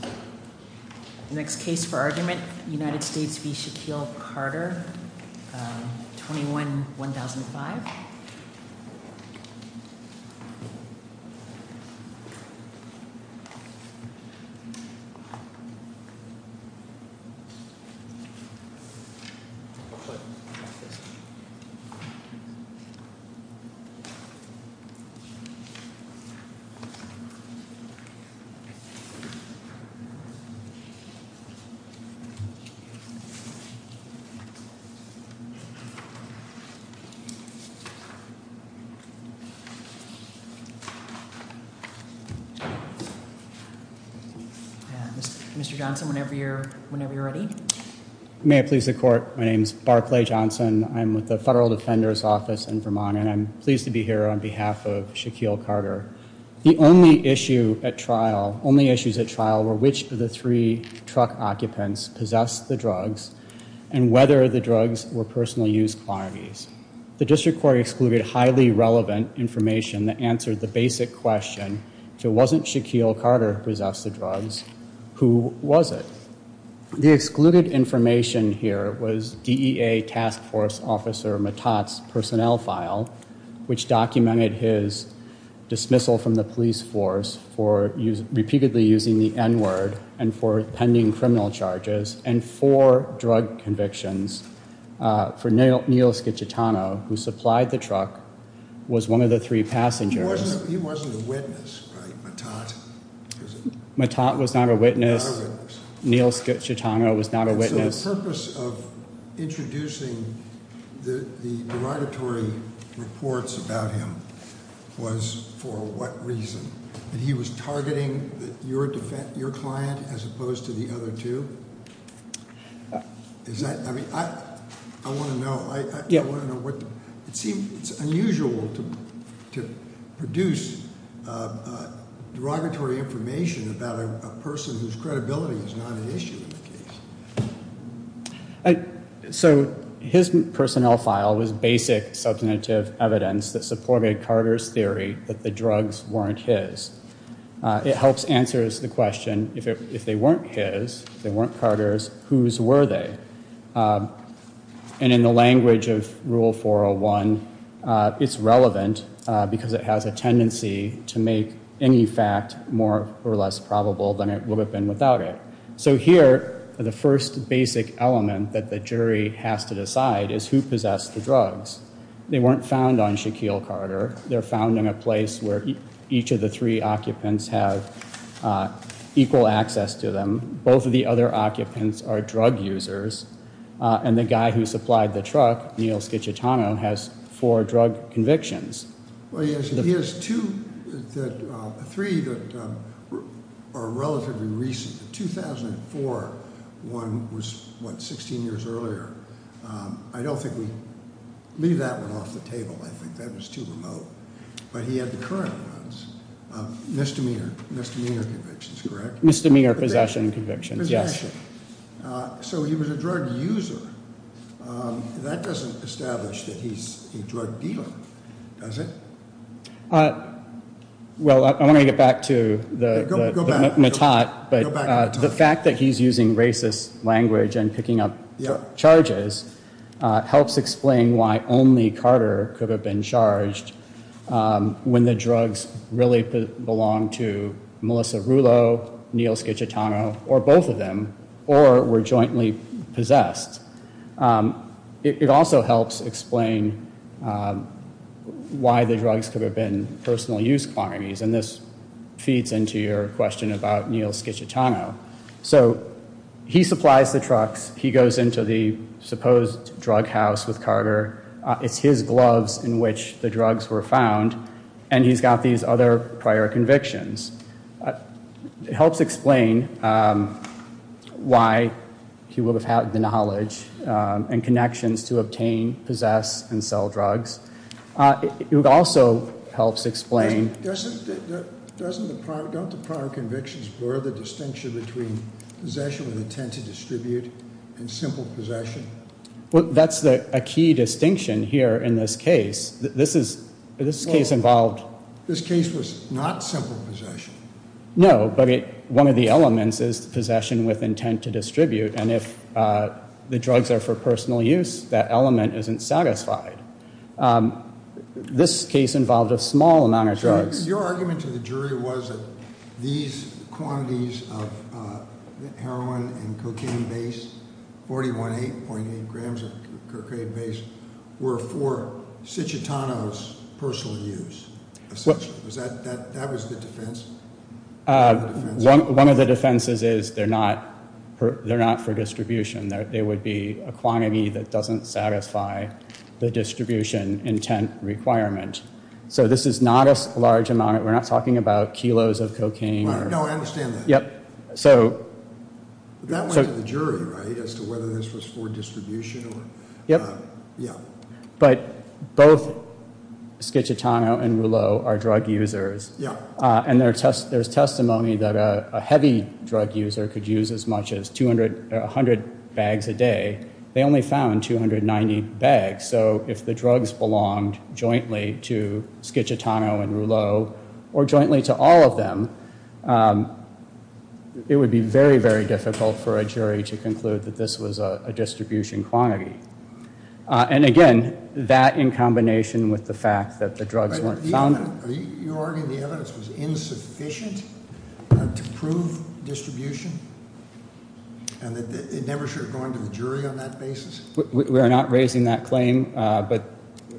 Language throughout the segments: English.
The next case for argument, United States v. Shaquille Carter, 21-1005 Mr. Johnson, whenever you're ready. May it please the court, my name is Barclay Johnson. I'm with the Federal Defender's Office in Vermont and I'm pleased to be here on behalf of Shaquille Carter. The only issue at trial, only issues at trial were which of the three truck occupants possessed the drugs and whether the drugs were personal use quantities. The district court excluded highly relevant information that answered the basic question, if it wasn't Shaquille Carter who possessed the drugs, who was it? The excluded information here was DEA Task Force Officer Matat's personnel file, which documented his dismissal from the police force for repeatedly using the N-word and for pending criminal charges and for drug convictions for Neil Schicittano, who supplied the truck, was one of the three passengers. He wasn't a witness, right, Matat? Matat was not a witness. Neil Schicittano was not a witness. So the purpose of introducing the derogatory reports about him was for what reason? That he was targeting your client as opposed to the other two? I want to know. It seems unusual to produce derogatory information about a person whose credibility is not an issue in the case. So his personnel file was basic substantive evidence that supported Carter's theory that the drugs weren't his. It helps answer the question, if they weren't his, if they weren't Carter's, whose were they? And in the language of Rule 401, it's relevant because it has a tendency to make any fact more or less probable than it would have been without it. So here, the first basic element that the jury has to decide is who possessed the drugs. They weren't found on Shaquille Carter. They're found in a place where each of the three occupants have equal access to them. Both of the other occupants are drug users. And the guy who supplied the truck, Neil Schicittano, has four drug convictions. Well, he has three that are relatively recent. The 2004 one was, what, 16 years earlier? I don't think we leave that one off the table. I think that was too remote. But he had the current ones, misdemeanor convictions, correct? Misdemeanor possession convictions, yes. Possession. So he was a drug user. That doesn't establish that he's a drug dealer, does it? Well, I want to get back to the- Go back. The fact that he's using racist language and picking up charges helps explain why only Carter could have been charged when the drugs really belonged to Melissa Rulo, Neil Schicittano, or both of them, or were jointly possessed. It also helps explain why the drugs could have been personal use quantities. And this feeds into your question about Neil Schicittano. So he supplies the trucks. He goes into the supposed drug house with Carter. It's his gloves in which the drugs were found. And he's got these other prior convictions. It helps explain why he would have had the knowledge and connections to obtain, possess, and sell drugs. It also helps explain- Doesn't the prior convictions blur the distinction between possession with intent to distribute and simple possession? That's a key distinction here in this case. This case involved- No, but one of the elements is possession with intent to distribute. And if the drugs are for personal use, that element isn't satisfied. This case involved a small amount of drugs. Your argument to the jury was that these quantities of heroin and cocaine-based, 41.8 grams of cocaine-based, were for Schicittano's personal use. That was the defense? One of the defenses is they're not for distribution. They would be a quantity that doesn't satisfy the distribution intent requirement. So this is not a large amount. We're not talking about kilos of cocaine. No, I understand that. Yep. That went to the jury, right, as to whether this was for distribution or- Yep. But both Schicittano and Rouleau are drug users. And there's testimony that a heavy drug user could use as much as 100 bags a day. They only found 290 bags. So if the drugs belonged jointly to Schicittano and Rouleau, or jointly to all of them, it would be very, very difficult for a jury to conclude that this was a distribution quantity. And, again, that in combination with the fact that the drugs weren't found- Are you arguing the evidence was insufficient to prove distribution? And that it never should have gone to the jury on that basis? We are not raising that claim. But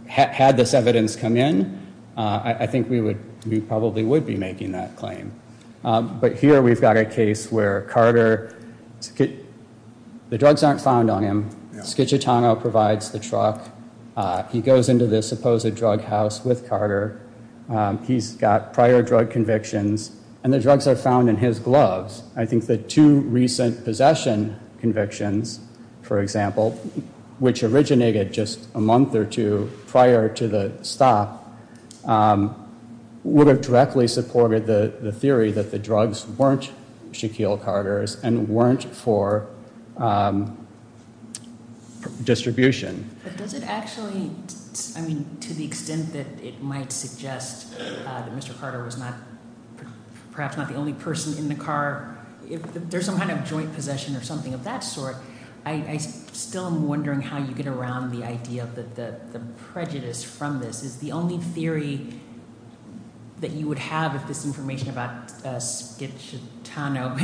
had this evidence come in, I think we probably would be making that claim. But here we've got a case where Carter- The drugs aren't found on him. Schicittano provides the truck. He goes into this supposed drug house with Carter. He's got prior drug convictions. And the drugs are found in his gloves. I think the two recent possession convictions, for example, which originated just a month or two prior to the stop, would have directly supported the theory that the drugs weren't Shaquille Carter's and weren't for distribution. But does it actually-I mean, to the extent that it might suggest that Mr. Carter was not-perhaps not the only person in the car, if there's some kind of joint possession or something of that sort, I still am wondering how you get around the idea that the prejudice from this is the only theory that you would have if this information about Schicittano-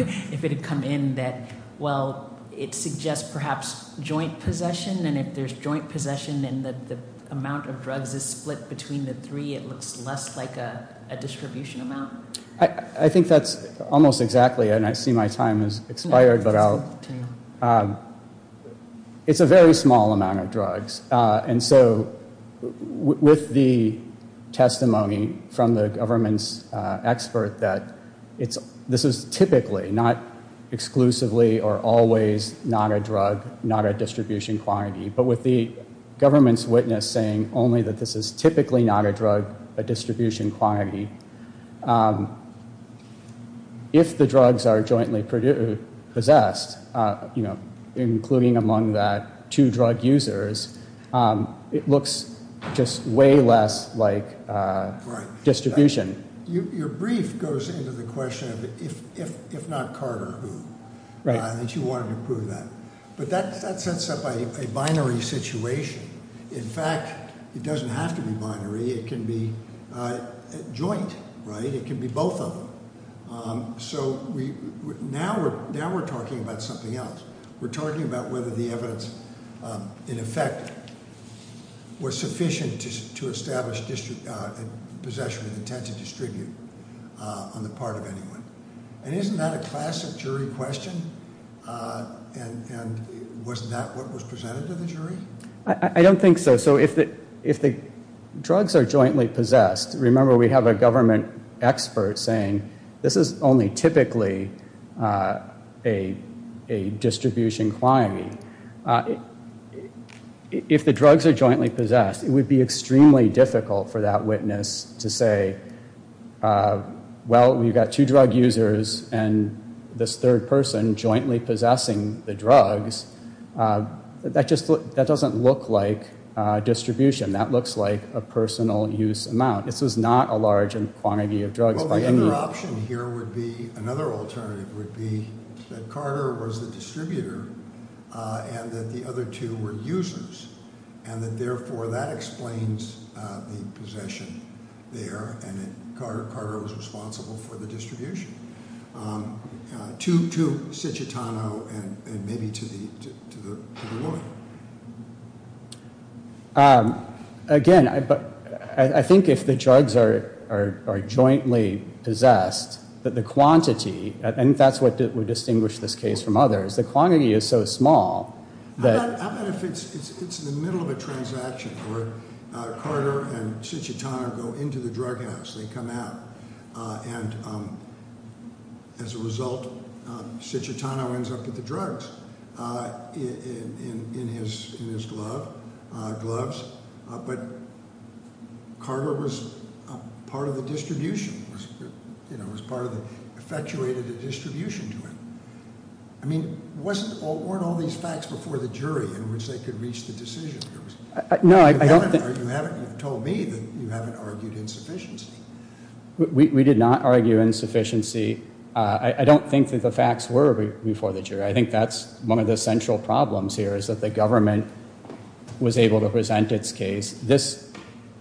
the amount of drugs is split between the three. It looks less like a distribution amount. I think that's almost exactly-and I see my time has expired, but I'll- It's a very small amount of drugs. And so with the testimony from the government's expert that this is typically not exclusively or always not a drug, not a distribution quantity, but with the government's witness saying only that this is typically not a drug, a distribution quantity, if the drugs are jointly possessed, including among that two drug users, it looks just way less like distribution. Your brief goes into the question of if not Carter, who? Right. And that you wanted to prove that. But that sets up a binary situation. In fact, it doesn't have to be binary. It can be joint, right? It can be both of them. So now we're talking about something else. We're talking about whether the evidence, in effect, was sufficient to establish possession with intent to distribute on the part of anyone. And isn't that a classic jury question? And was that what was presented to the jury? I don't think so. So if the drugs are jointly possessed, remember we have a government expert saying this is only typically a distribution quantity. If the drugs are jointly possessed, it would be extremely difficult for that witness to say, well, we've got two drug users and this third person jointly possessing the drugs. That doesn't look like distribution. That looks like a personal use amount. This is not a large quantity of drugs. Well, the other option here would be, another alternative would be that Carter was the distributor and that the other two were users. And that therefore that explains the possession there and that Carter was responsible for the distribution. To Cititano and maybe to the lawyer. Again, I think if the drugs are jointly possessed, that the quantity, and that's what would distinguish this case from others, the quantity is so small that- How about if it's in the middle of a transaction where Carter and Cititano go into the drug house, they come out, and as a result, Cititano ends up with the drugs. In his gloves. But Carter was part of the distribution. You know, was part of the, effectuated a distribution to him. I mean, weren't all these facts before the jury in which they could reach the decision? No, I don't think- You haven't told me that you haven't argued insufficiency. We did not argue insufficiency. I don't think that the facts were before the jury. I think that's one of the central problems here is that the government was able to present its case. This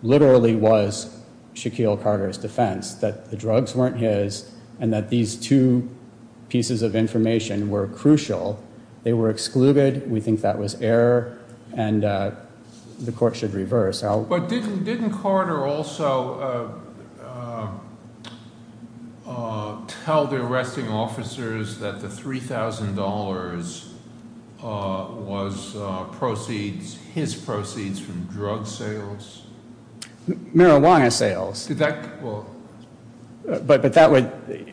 literally was Shaquille Carter's defense that the drugs weren't his and that these two pieces of information were crucial. They were excluded. We think that was error and the court should reverse. But didn't Carter also tell the arresting officers that the $3,000 was proceeds, his proceeds from drug sales? Marijuana sales. Did that, well- But that would,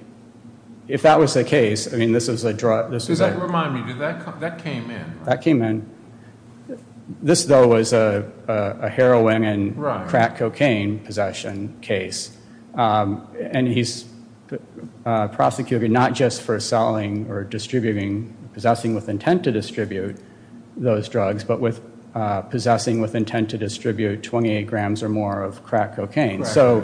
if that was the case, I mean, this is a drug- Does that remind me, did that come, that came in, right? That came in. This, though, was a heroin and crack cocaine possession case. And he's prosecuting not just for selling or distributing, possessing with intent to distribute those drugs, but with possessing with intent to distribute 28 grams or more of crack cocaine. So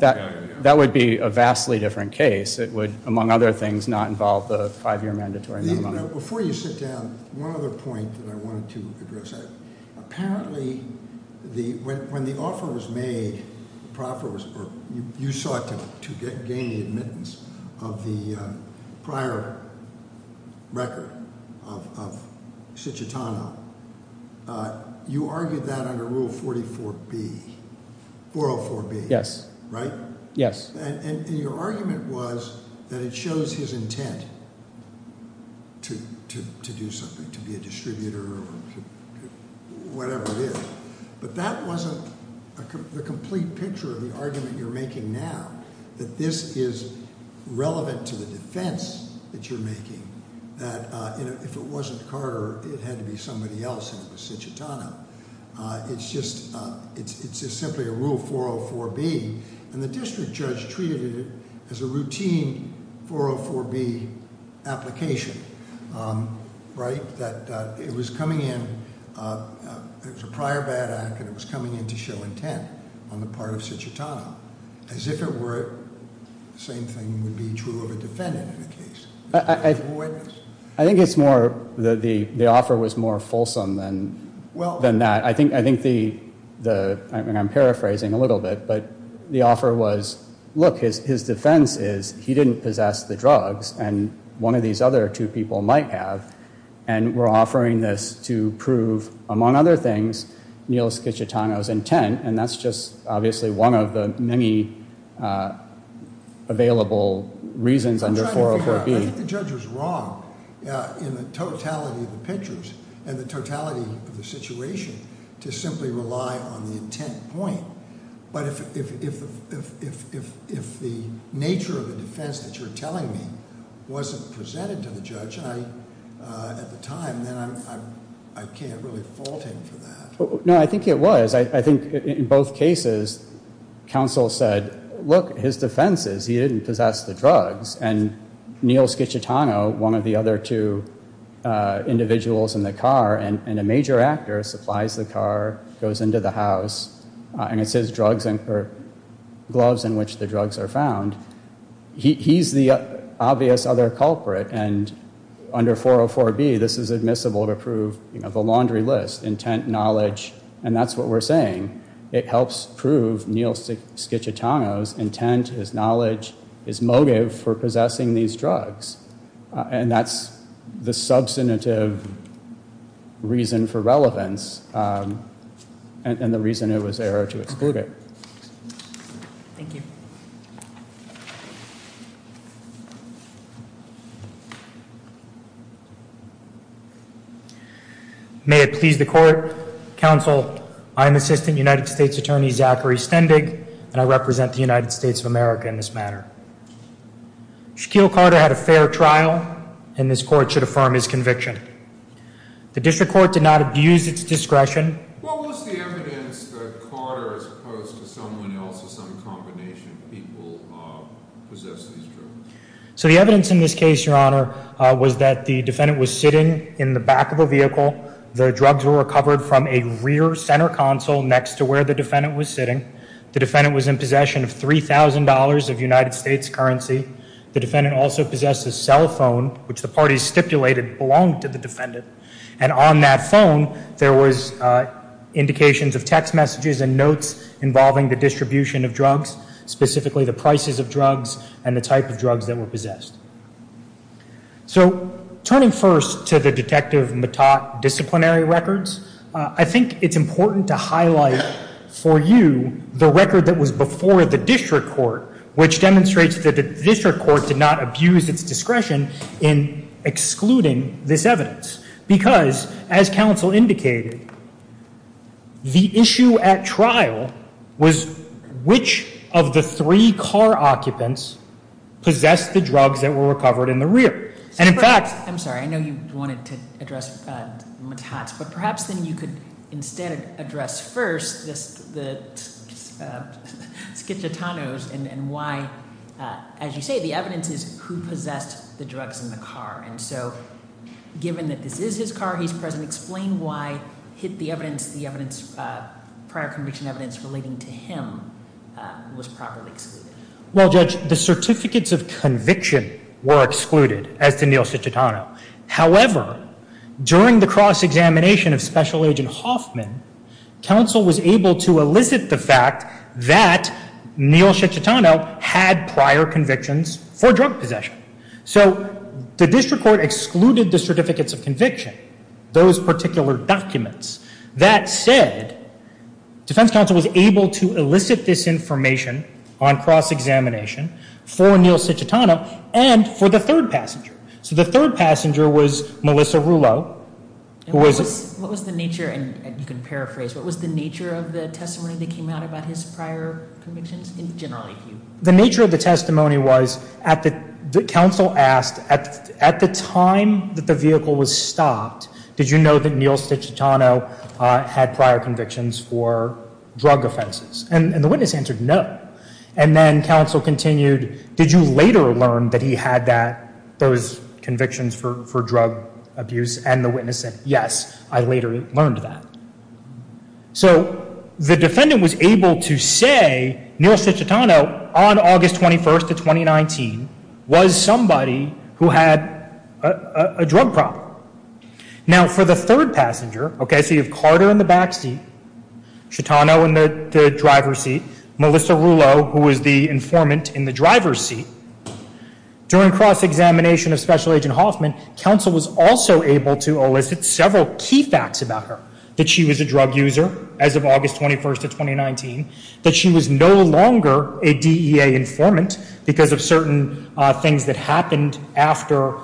that would be a vastly different case. It would, among other things, not involve the five-year mandatory- Before you sit down, one other point that I wanted to address. Apparently, when the offer was made, the proffer was, or you sought to gain the admittance of the prior record of Ciccitano, you argued that under Rule 44B, 404B, right? Yes. And your argument was that it shows his intent to do something, to be a distributor or whatever it is. But that wasn't the complete picture of the argument you're making now, that this is relevant to the defense that you're making, that if it wasn't Carter, it had to be somebody else, and it was Ciccitano. It's just simply a Rule 404B. And the district judge treated it as a routine 404B application, right? That it was coming in, it was a prior bad act, and it was coming in to show intent on the part of Ciccitano. As if it were, same thing would be true of a defendant in a case. I think it's more, the offer was more fulsome than that. I think the, and I'm paraphrasing a little bit, but the offer was, look, his defense is he didn't possess the drugs, and one of these other two people might have, and we're offering this to prove, among other things, Neil Ciccitano's intent, and that's just obviously one of the many available reasons under 404B. I think the judge was wrong in the totality of the pictures and the totality of the situation to simply rely on the intent point. But if the nature of the defense that you're telling me wasn't presented to the judge at the time, then I can't really fault him for that. No, I think it was. I think in both cases, counsel said, look, his defense is he didn't possess the drugs, and Neil Ciccitano, one of the other two individuals in the car, and a major actor, supplies the car, goes into the house, and it's his drugs, gloves in which the drugs are found. He's the obvious other culprit, and under 404B, this is admissible to prove the laundry list, intent, knowledge, and that's what we're saying. It helps prove Neil Ciccitano's intent, his knowledge, his motive for possessing these drugs, and that's the substantive reason for relevance and the reason it was error to exclude it. Thank you. May it please the court. Counsel, I'm Assistant United States Attorney Zachary Stendig, and I represent the United States of America in this matter. Shaquille Carter had a fair trial, and this court should affirm his conviction. The district court did not abuse its discretion. What was the evidence that Carter, as opposed to someone else or some combination of people, possessed these drugs? So the evidence in this case, Your Honor, was that the defendant was sitting in the back of a vehicle. The drugs were recovered from a rear center console next to where the defendant was sitting. The defendant was in possession of $3,000 of United States currency. The defendant also possessed a cell phone, which the parties stipulated belonged to the defendant, and on that phone there was indications of text messages and notes involving the distribution of drugs, specifically the prices of drugs and the type of drugs that were possessed. So turning first to the Detective Mattot disciplinary records, I think it's important to highlight for you the record that was before the district court, which demonstrates that the district court did not abuse its discretion in excluding this evidence, because, as counsel indicated, the issue at trial was which of the three car occupants possessed the drugs that were recovered in the rear. I'm sorry, I know you wanted to address Mattot, but perhaps then you could instead address first the schizotronos and why, as you say, the evidence is who possessed the drugs in the car. And so given that this is his car, he's present, explain why the prior conviction evidence relating to him was properly excluded. Well, Judge, the certificates of conviction were excluded as to Neil Schizotrono. However, during the cross-examination of Special Agent Hoffman, counsel was able to elicit the fact that Neil Schizotrono had prior convictions for drug possession. So the district court excluded the certificates of conviction, those particular documents. That said, defense counsel was able to elicit this information on cross-examination for Neil Schizotrono and for the third passenger. So the third passenger was Melissa Rouleau. What was the nature, and you can paraphrase, what was the nature of the testimony that came out about his prior convictions in general? The nature of the testimony was, the counsel asked, at the time that the vehicle was stopped, did you know that Neil Schizotrono had prior convictions for drug offenses? And the witness answered, no. And then counsel continued, did you later learn that he had those convictions for drug abuse? And the witness said, yes, I later learned that. So the defendant was able to say Neil Schizotrono, on August 21st of 2019, was somebody who had a drug problem. Now, for the third passenger, okay, so you have Carter in the backseat, Schizotrono in the driver's seat, Melissa Rouleau, who was the informant in the driver's seat. During cross-examination of Special Agent Hoffman, counsel was also able to elicit several key facts about her, that she was a drug user as of August 21st of 2019, that she was no longer a DEA informant because of certain things that happened after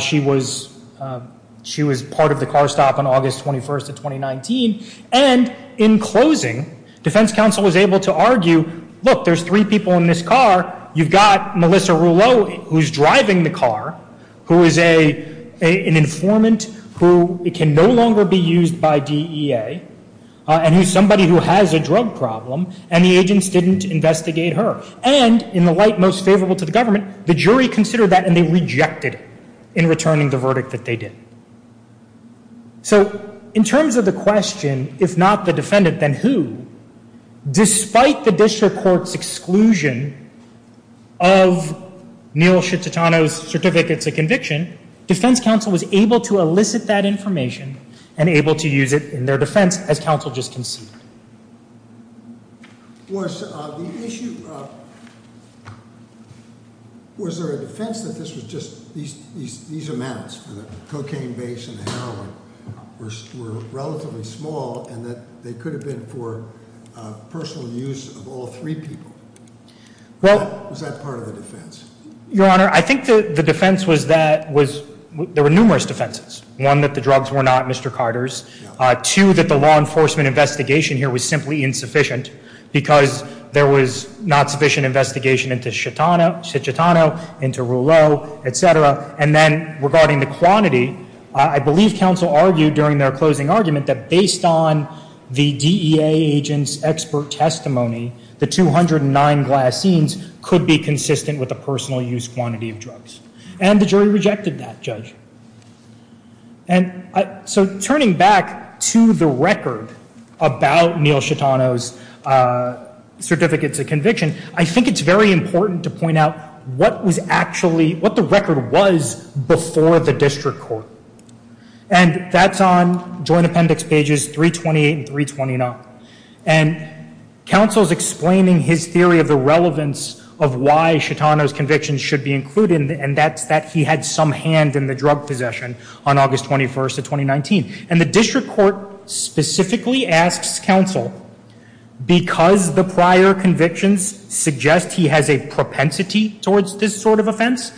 she was part of the car stop on August 21st of 2019. And in closing, defense counsel was able to argue, look, there's three people in this car. You've got Melissa Rouleau, who's driving the car, who is an informant who can no longer be used by DEA, and who's somebody who has a drug problem, and the agents didn't investigate her. And, in the light most favorable to the government, the jury considered that, and they rejected it in returning the verdict that they did. So, in terms of the question, if not the defendant, then who, despite the district court's exclusion of Neal Schizotrono's certificate of conviction, defense counsel was able to elicit that information and able to use it in their defense, as counsel just conceded. Was the issue, was there a defense that this was just, these amounts for the cocaine base and the heroin were relatively small, and that they could have been for personal use of all three people? Was that part of the defense? Your Honor, I think the defense was that there were numerous defenses. One, that the drugs were not Mr. Carter's. Two, that the law enforcement investigation here was simply insufficient, because there was not sufficient investigation into Schizotrono, into Rouleau, et cetera. And then, regarding the quantity, I believe counsel argued during their closing argument that based on the DEA agent's expert testimony, the 209 glassines could be consistent with the personal use quantity of drugs. And the jury rejected that, Judge. And so, turning back to the record about Neal Schizotrono's certificate of conviction, I think it's very important to point out what was actually, what the record was before the district court. And that's on Joint Appendix Pages 328 and 329. And counsel's explaining his theory of the relevance of why Schizotrono's conviction should be included, and that's that he had some hand in the drug possession on August 21st of 2019. And the district court specifically asks counsel, because the prior convictions suggest he has a propensity towards this sort of offense,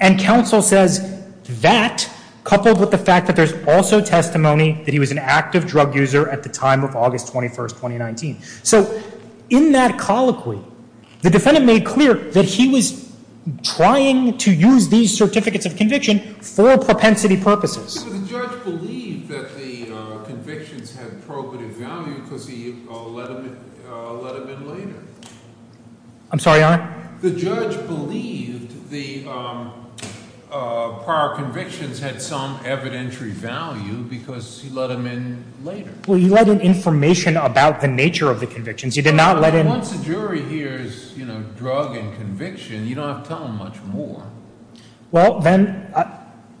and counsel says that, coupled with the fact that there's also testimony that he was an active drug user at the time of August 21st, 2019. So, in that colloquy, the defendant made clear that he was trying to use these certificates of conviction for propensity purposes. But the judge believed that the convictions had probative value because he let him in later. I'm sorry, Your Honor? The judge believed the prior convictions had some evidentiary value because he let him in later. Well, you let in information about the nature of the convictions. You did not let in... Once a jury hears, you know, drug and conviction, you don't have to tell them much more. Well, then,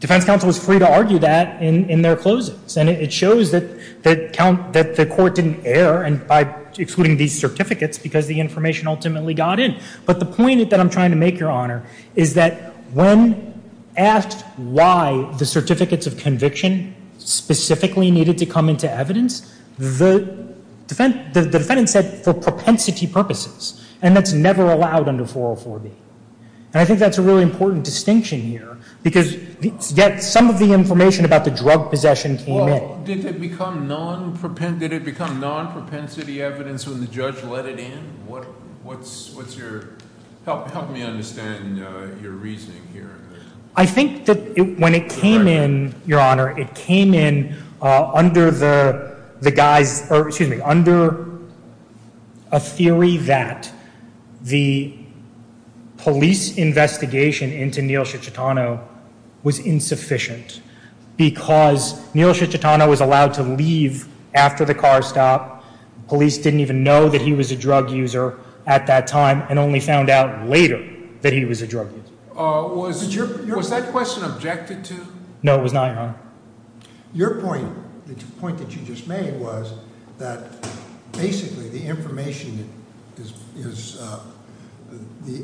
defense counsel is free to argue that in their closings. And it shows that the court didn't err by excluding these certificates because the information ultimately got in. But the point that I'm trying to make, Your Honor, is that when asked why the certificates of conviction specifically needed to come into evidence, the defendant said for propensity purposes, and that's never allowed under 404B. And I think that's a really important distinction here because yet some of the information about the drug possession came in. Well, did it become non-propensity evidence when the judge let it in? What's your – help me understand your reasoning here. I think that when it came in, Your Honor, it came in under the guy's – or excuse me, under a theory that the police investigation into Neal Cicciutano was insufficient because Neal Cicciutano was allowed to leave after the car stop. Police didn't even know that he was a drug user at that time and only found out later that he was a drug user. Was that question objected to? No, it was not, Your Honor. Your point, the point that you just made, was that basically the information is – the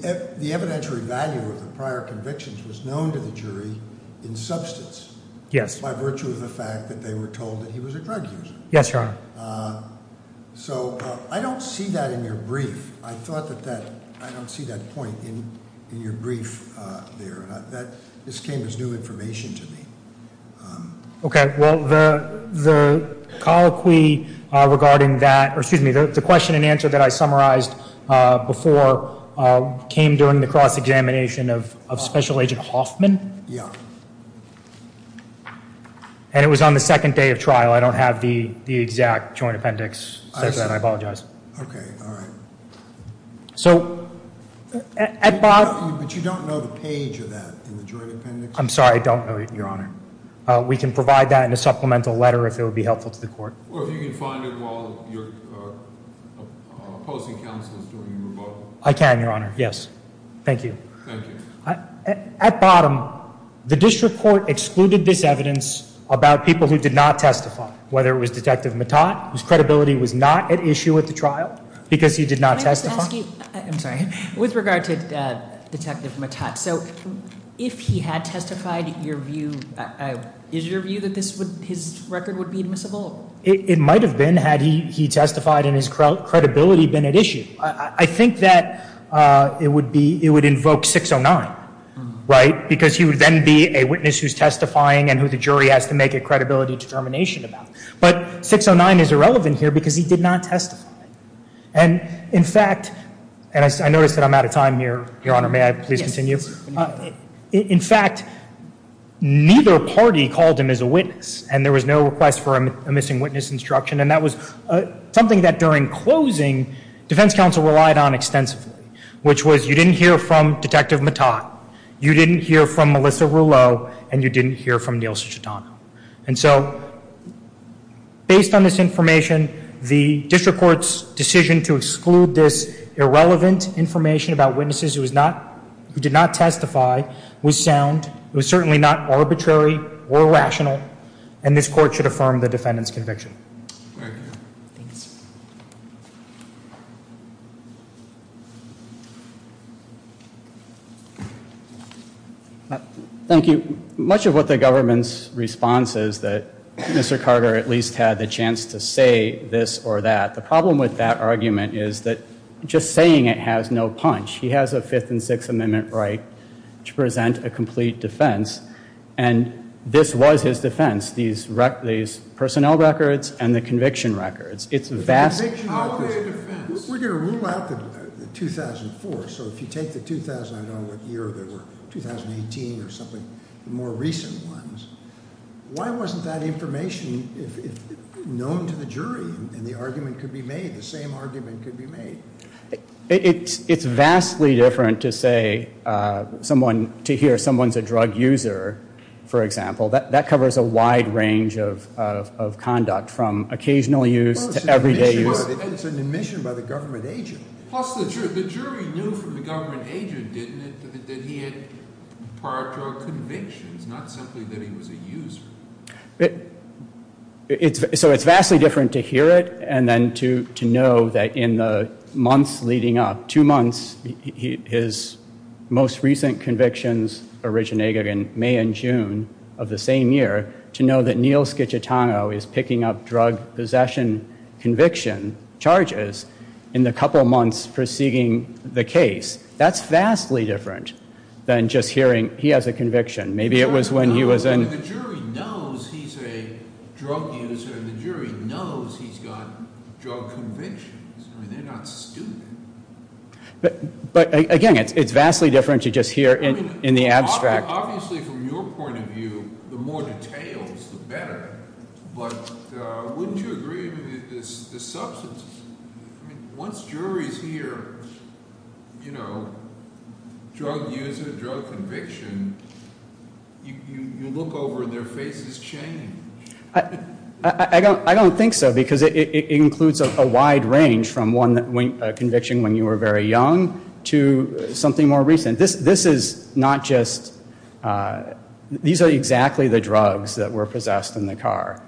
evidentiary value of the prior convictions was known to the jury in substance. Yes. By virtue of the fact that they were told that he was a drug user. Yes, Your Honor. So I don't see that in your brief. I thought that that – I don't see that point in your brief there. This came as new information to me. Okay. Well, the colloquy regarding that – or excuse me, the question and answer that I summarized before came during the cross-examination of Special Agent Hoffman. Yeah. And it was on the second day of trial. I don't have the exact joint appendix. I apologize. Okay. All right. So at bottom – But you don't know the page of that in the joint appendix? I'm sorry. I don't know it, Your Honor. We can provide that in a supplemental letter if it would be helpful to the court. Or if you can find it while your opposing counsel is doing your vote. I can, Your Honor. Yes. Thank you. Thank you. At bottom, the district court excluded this evidence about people who did not testify, whether it was Detective Mattat, whose credibility was not at issue at the trial because he did not testify. Can I just ask you – I'm sorry. With regard to Detective Mattat, so if he had testified, your view – is your view that his record would be admissible? It might have been had he testified and his credibility been at issue. I think that it would be – it would invoke 609, right? Because he would then be a witness who's testifying and who the jury has to make a credibility determination about. But 609 is irrelevant here because he did not testify. And, in fact – and I notice that I'm out of time here, Your Honor. May I please continue? Yes. In fact, neither party called him as a witness, and there was no request for a missing witness instruction. And that was something that during closing, defense counsel relied on extensively, which was you didn't hear from Detective Mattat, you didn't hear from Melissa Rouleau, and you didn't hear from Neil Cicciutano. And so, based on this information, the district court's decision to exclude this irrelevant information about witnesses who was not – who did not testify was sound. It was certainly not arbitrary or rational. And this court should affirm the defendant's conviction. Very good. Thanks. Thank you. Much of what the government's response is that Mr. Carter at least had the chance to say this or that. The problem with that argument is that just saying it has no punch. He has a Fifth and Sixth Amendment right to present a complete defense, and this was his defense, these personnel records and the conviction records. It's vastly different. We're going to rule out the 2004, so if you take the 2000, I don't know what year they were, 2018 or something, the more recent ones, why wasn't that information known to the jury and the argument could be made, the same argument could be made? It's vastly different to say someone – to hear someone's a drug user, for example. That covers a wide range of conduct from occasional use to everyday use. It's an admission by the government agent. Plus, the jury knew from the government agent, didn't it, that he had prior drug convictions, not simply that he was a user. So it's vastly different to hear it and then to know that in the months leading up, two months, his most recent convictions originate in May and June of the same year, to know that Neal Schiciotano is picking up drug possession conviction charges in the couple months preceding the case. That's vastly different than just hearing he has a conviction. The jury knows he's a drug user. The jury knows he's got drug convictions. They're not stupid. But, again, it's vastly different to just hear in the abstract. Obviously, from your point of view, the more details, the better. But wouldn't you agree with the substance? I mean, once juries hear, you know, drug user, drug conviction, you look over and their faces change. I don't think so because it includes a wide range from one conviction when you were very young to something more recent. This is not just, these are exactly the drugs that were possessed in the car.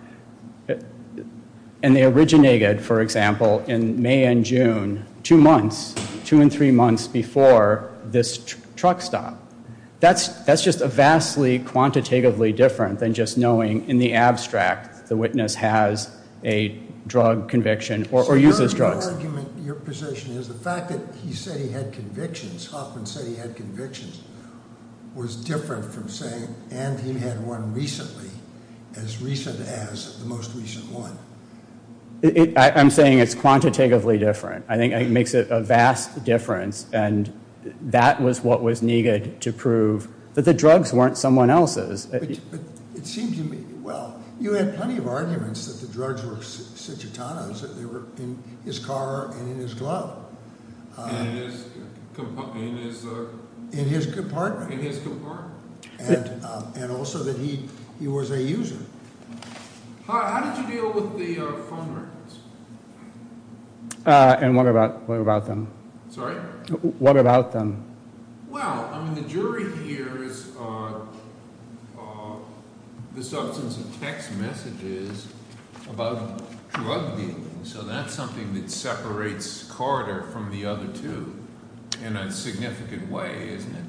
And they originated, for example, in May and June, two months, two and three months before this truck stop. That's just a vastly quantitatively different than just knowing in the abstract the witness has a drug conviction or uses drugs. So your argument, your position is the fact that he said he had convictions, Hoffman said he had convictions, was different from saying, and he had one recently, as recent as the most recent one. I'm saying it's quantitatively different. I think it makes a vast difference. And that was what was needed to prove that the drugs weren't someone else's. But it seemed to me, well, you had plenty of arguments that the drugs were Cititano's, that they were in his car and in his glove. In his compartment. In his compartment. In his compartment. And also that he was a user. How did you deal with the phone records? And what about them? Sorry? What about them? Well, I mean, the jury hears the substance of text messages about drug dealing, so that's something that separates Carter from the other two in a significant way, isn't it?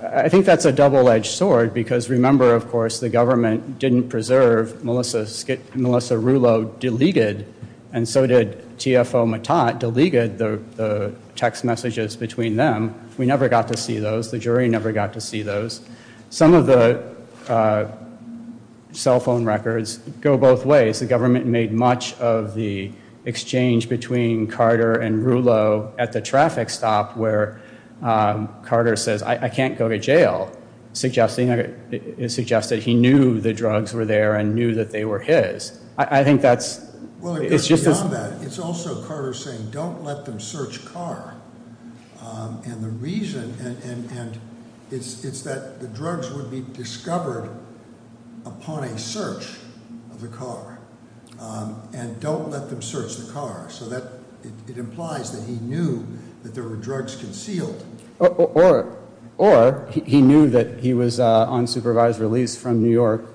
I think that's a double-edged sword, because remember, of course, the government didn't preserve Melissa Rulo delegated, and so did TFO Matat delegated the text messages between them. We never got to see those. The jury never got to see those. Some of the cell phone records go both ways. The government made much of the exchange between Carter and Rulo at the traffic stop, where Carter says, I can't go to jail, suggesting that he knew the drugs were there and knew that they were his. I think that's, it's just as. Well, it goes beyond that. It's also Carter saying, don't let them search car. And the reason, and it's that the drugs would be discovered upon a search of the car, and don't let them search the car. So it implies that he knew that there were drugs concealed. Or he knew that he was on supervised release from New York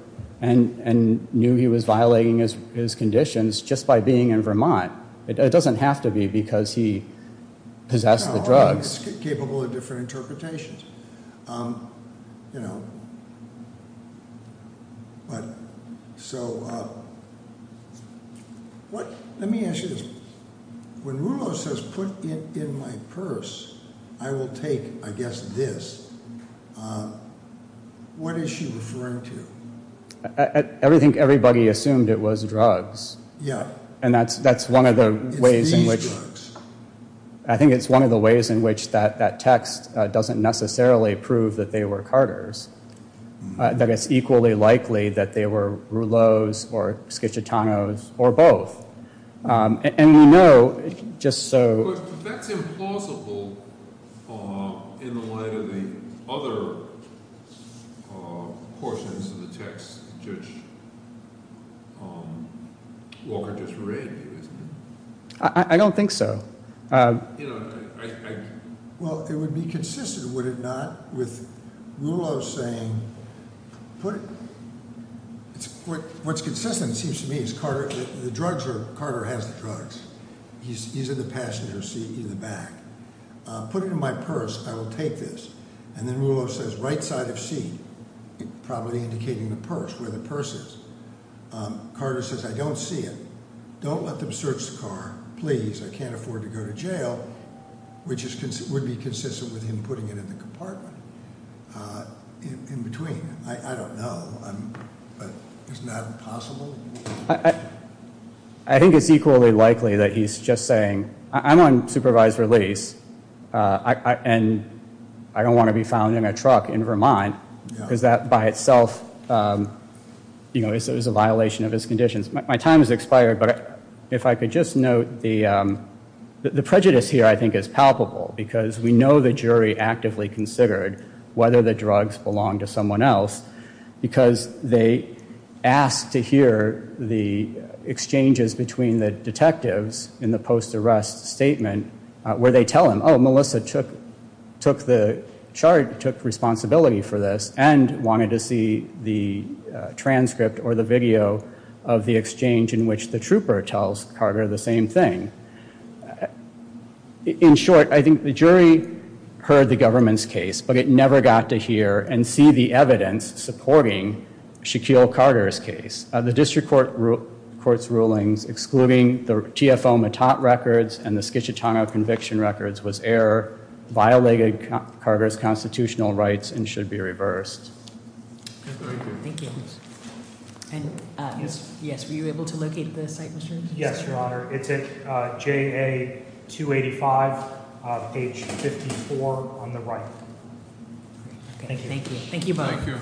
and knew he was violating his conditions just by being in Vermont. It doesn't have to be because he possessed the drugs. It's capable of different interpretations. Let me ask you this. When Rulo says, put it in my purse, I will take, I guess, this. What is she referring to? Everybody assumed it was drugs. Yeah. And that's one of the ways in which. It's these drugs. I think it's one of the ways in which that text doesn't necessarily prove that they were Carter's. That it's equally likely that they were Rulo's or Schicitano's or both. And we know, just so. But that's implausible in the light of the other portions of the text Judge Walker just read. I don't think so. Well, it would be consistent, would it not, with Rulo saying, put it. What's consistent, it seems to me, is Carter, the drugs are, Carter has the drugs. He's in the passenger seat in the back. Put it in my purse, I will take this. And then Rulo says, right side of seat. Probably indicating the purse, where the purse is. Carter says, I don't see it. Don't let them search the car, please. I can't afford to go to jail. Which would be consistent with him putting it in the compartment. In between. I don't know. Isn't that possible? I think it's equally likely that he's just saying, I'm on supervised release. And I don't want to be found in a truck in Vermont. Because that, by itself, is a violation of his conditions. My time has expired. But if I could just note, the prejudice here, I think, is palpable. Because we know the jury actively considered whether the drugs belonged to someone else. Because they asked to hear the exchanges between the detectives in the post-arrest statement. Where they tell him, oh, Melissa took the chart, took responsibility for this. And wanted to see the transcript or the video of the exchange in which the trooper tells Carter the same thing. In short, I think the jury heard the government's case. But it never got to hear and see the evidence supporting Shaquille Carter's case. The district court's rulings excluding the TFO Mattat records and the Schiciatano conviction records was error. Violated Carter's constitutional rights and should be reversed. Thank you. And, yes, were you able to locate the site, Mr. McSherry? Yes, Your Honor. It's at JA 285, page 54 on the right. Thank you. Thank you.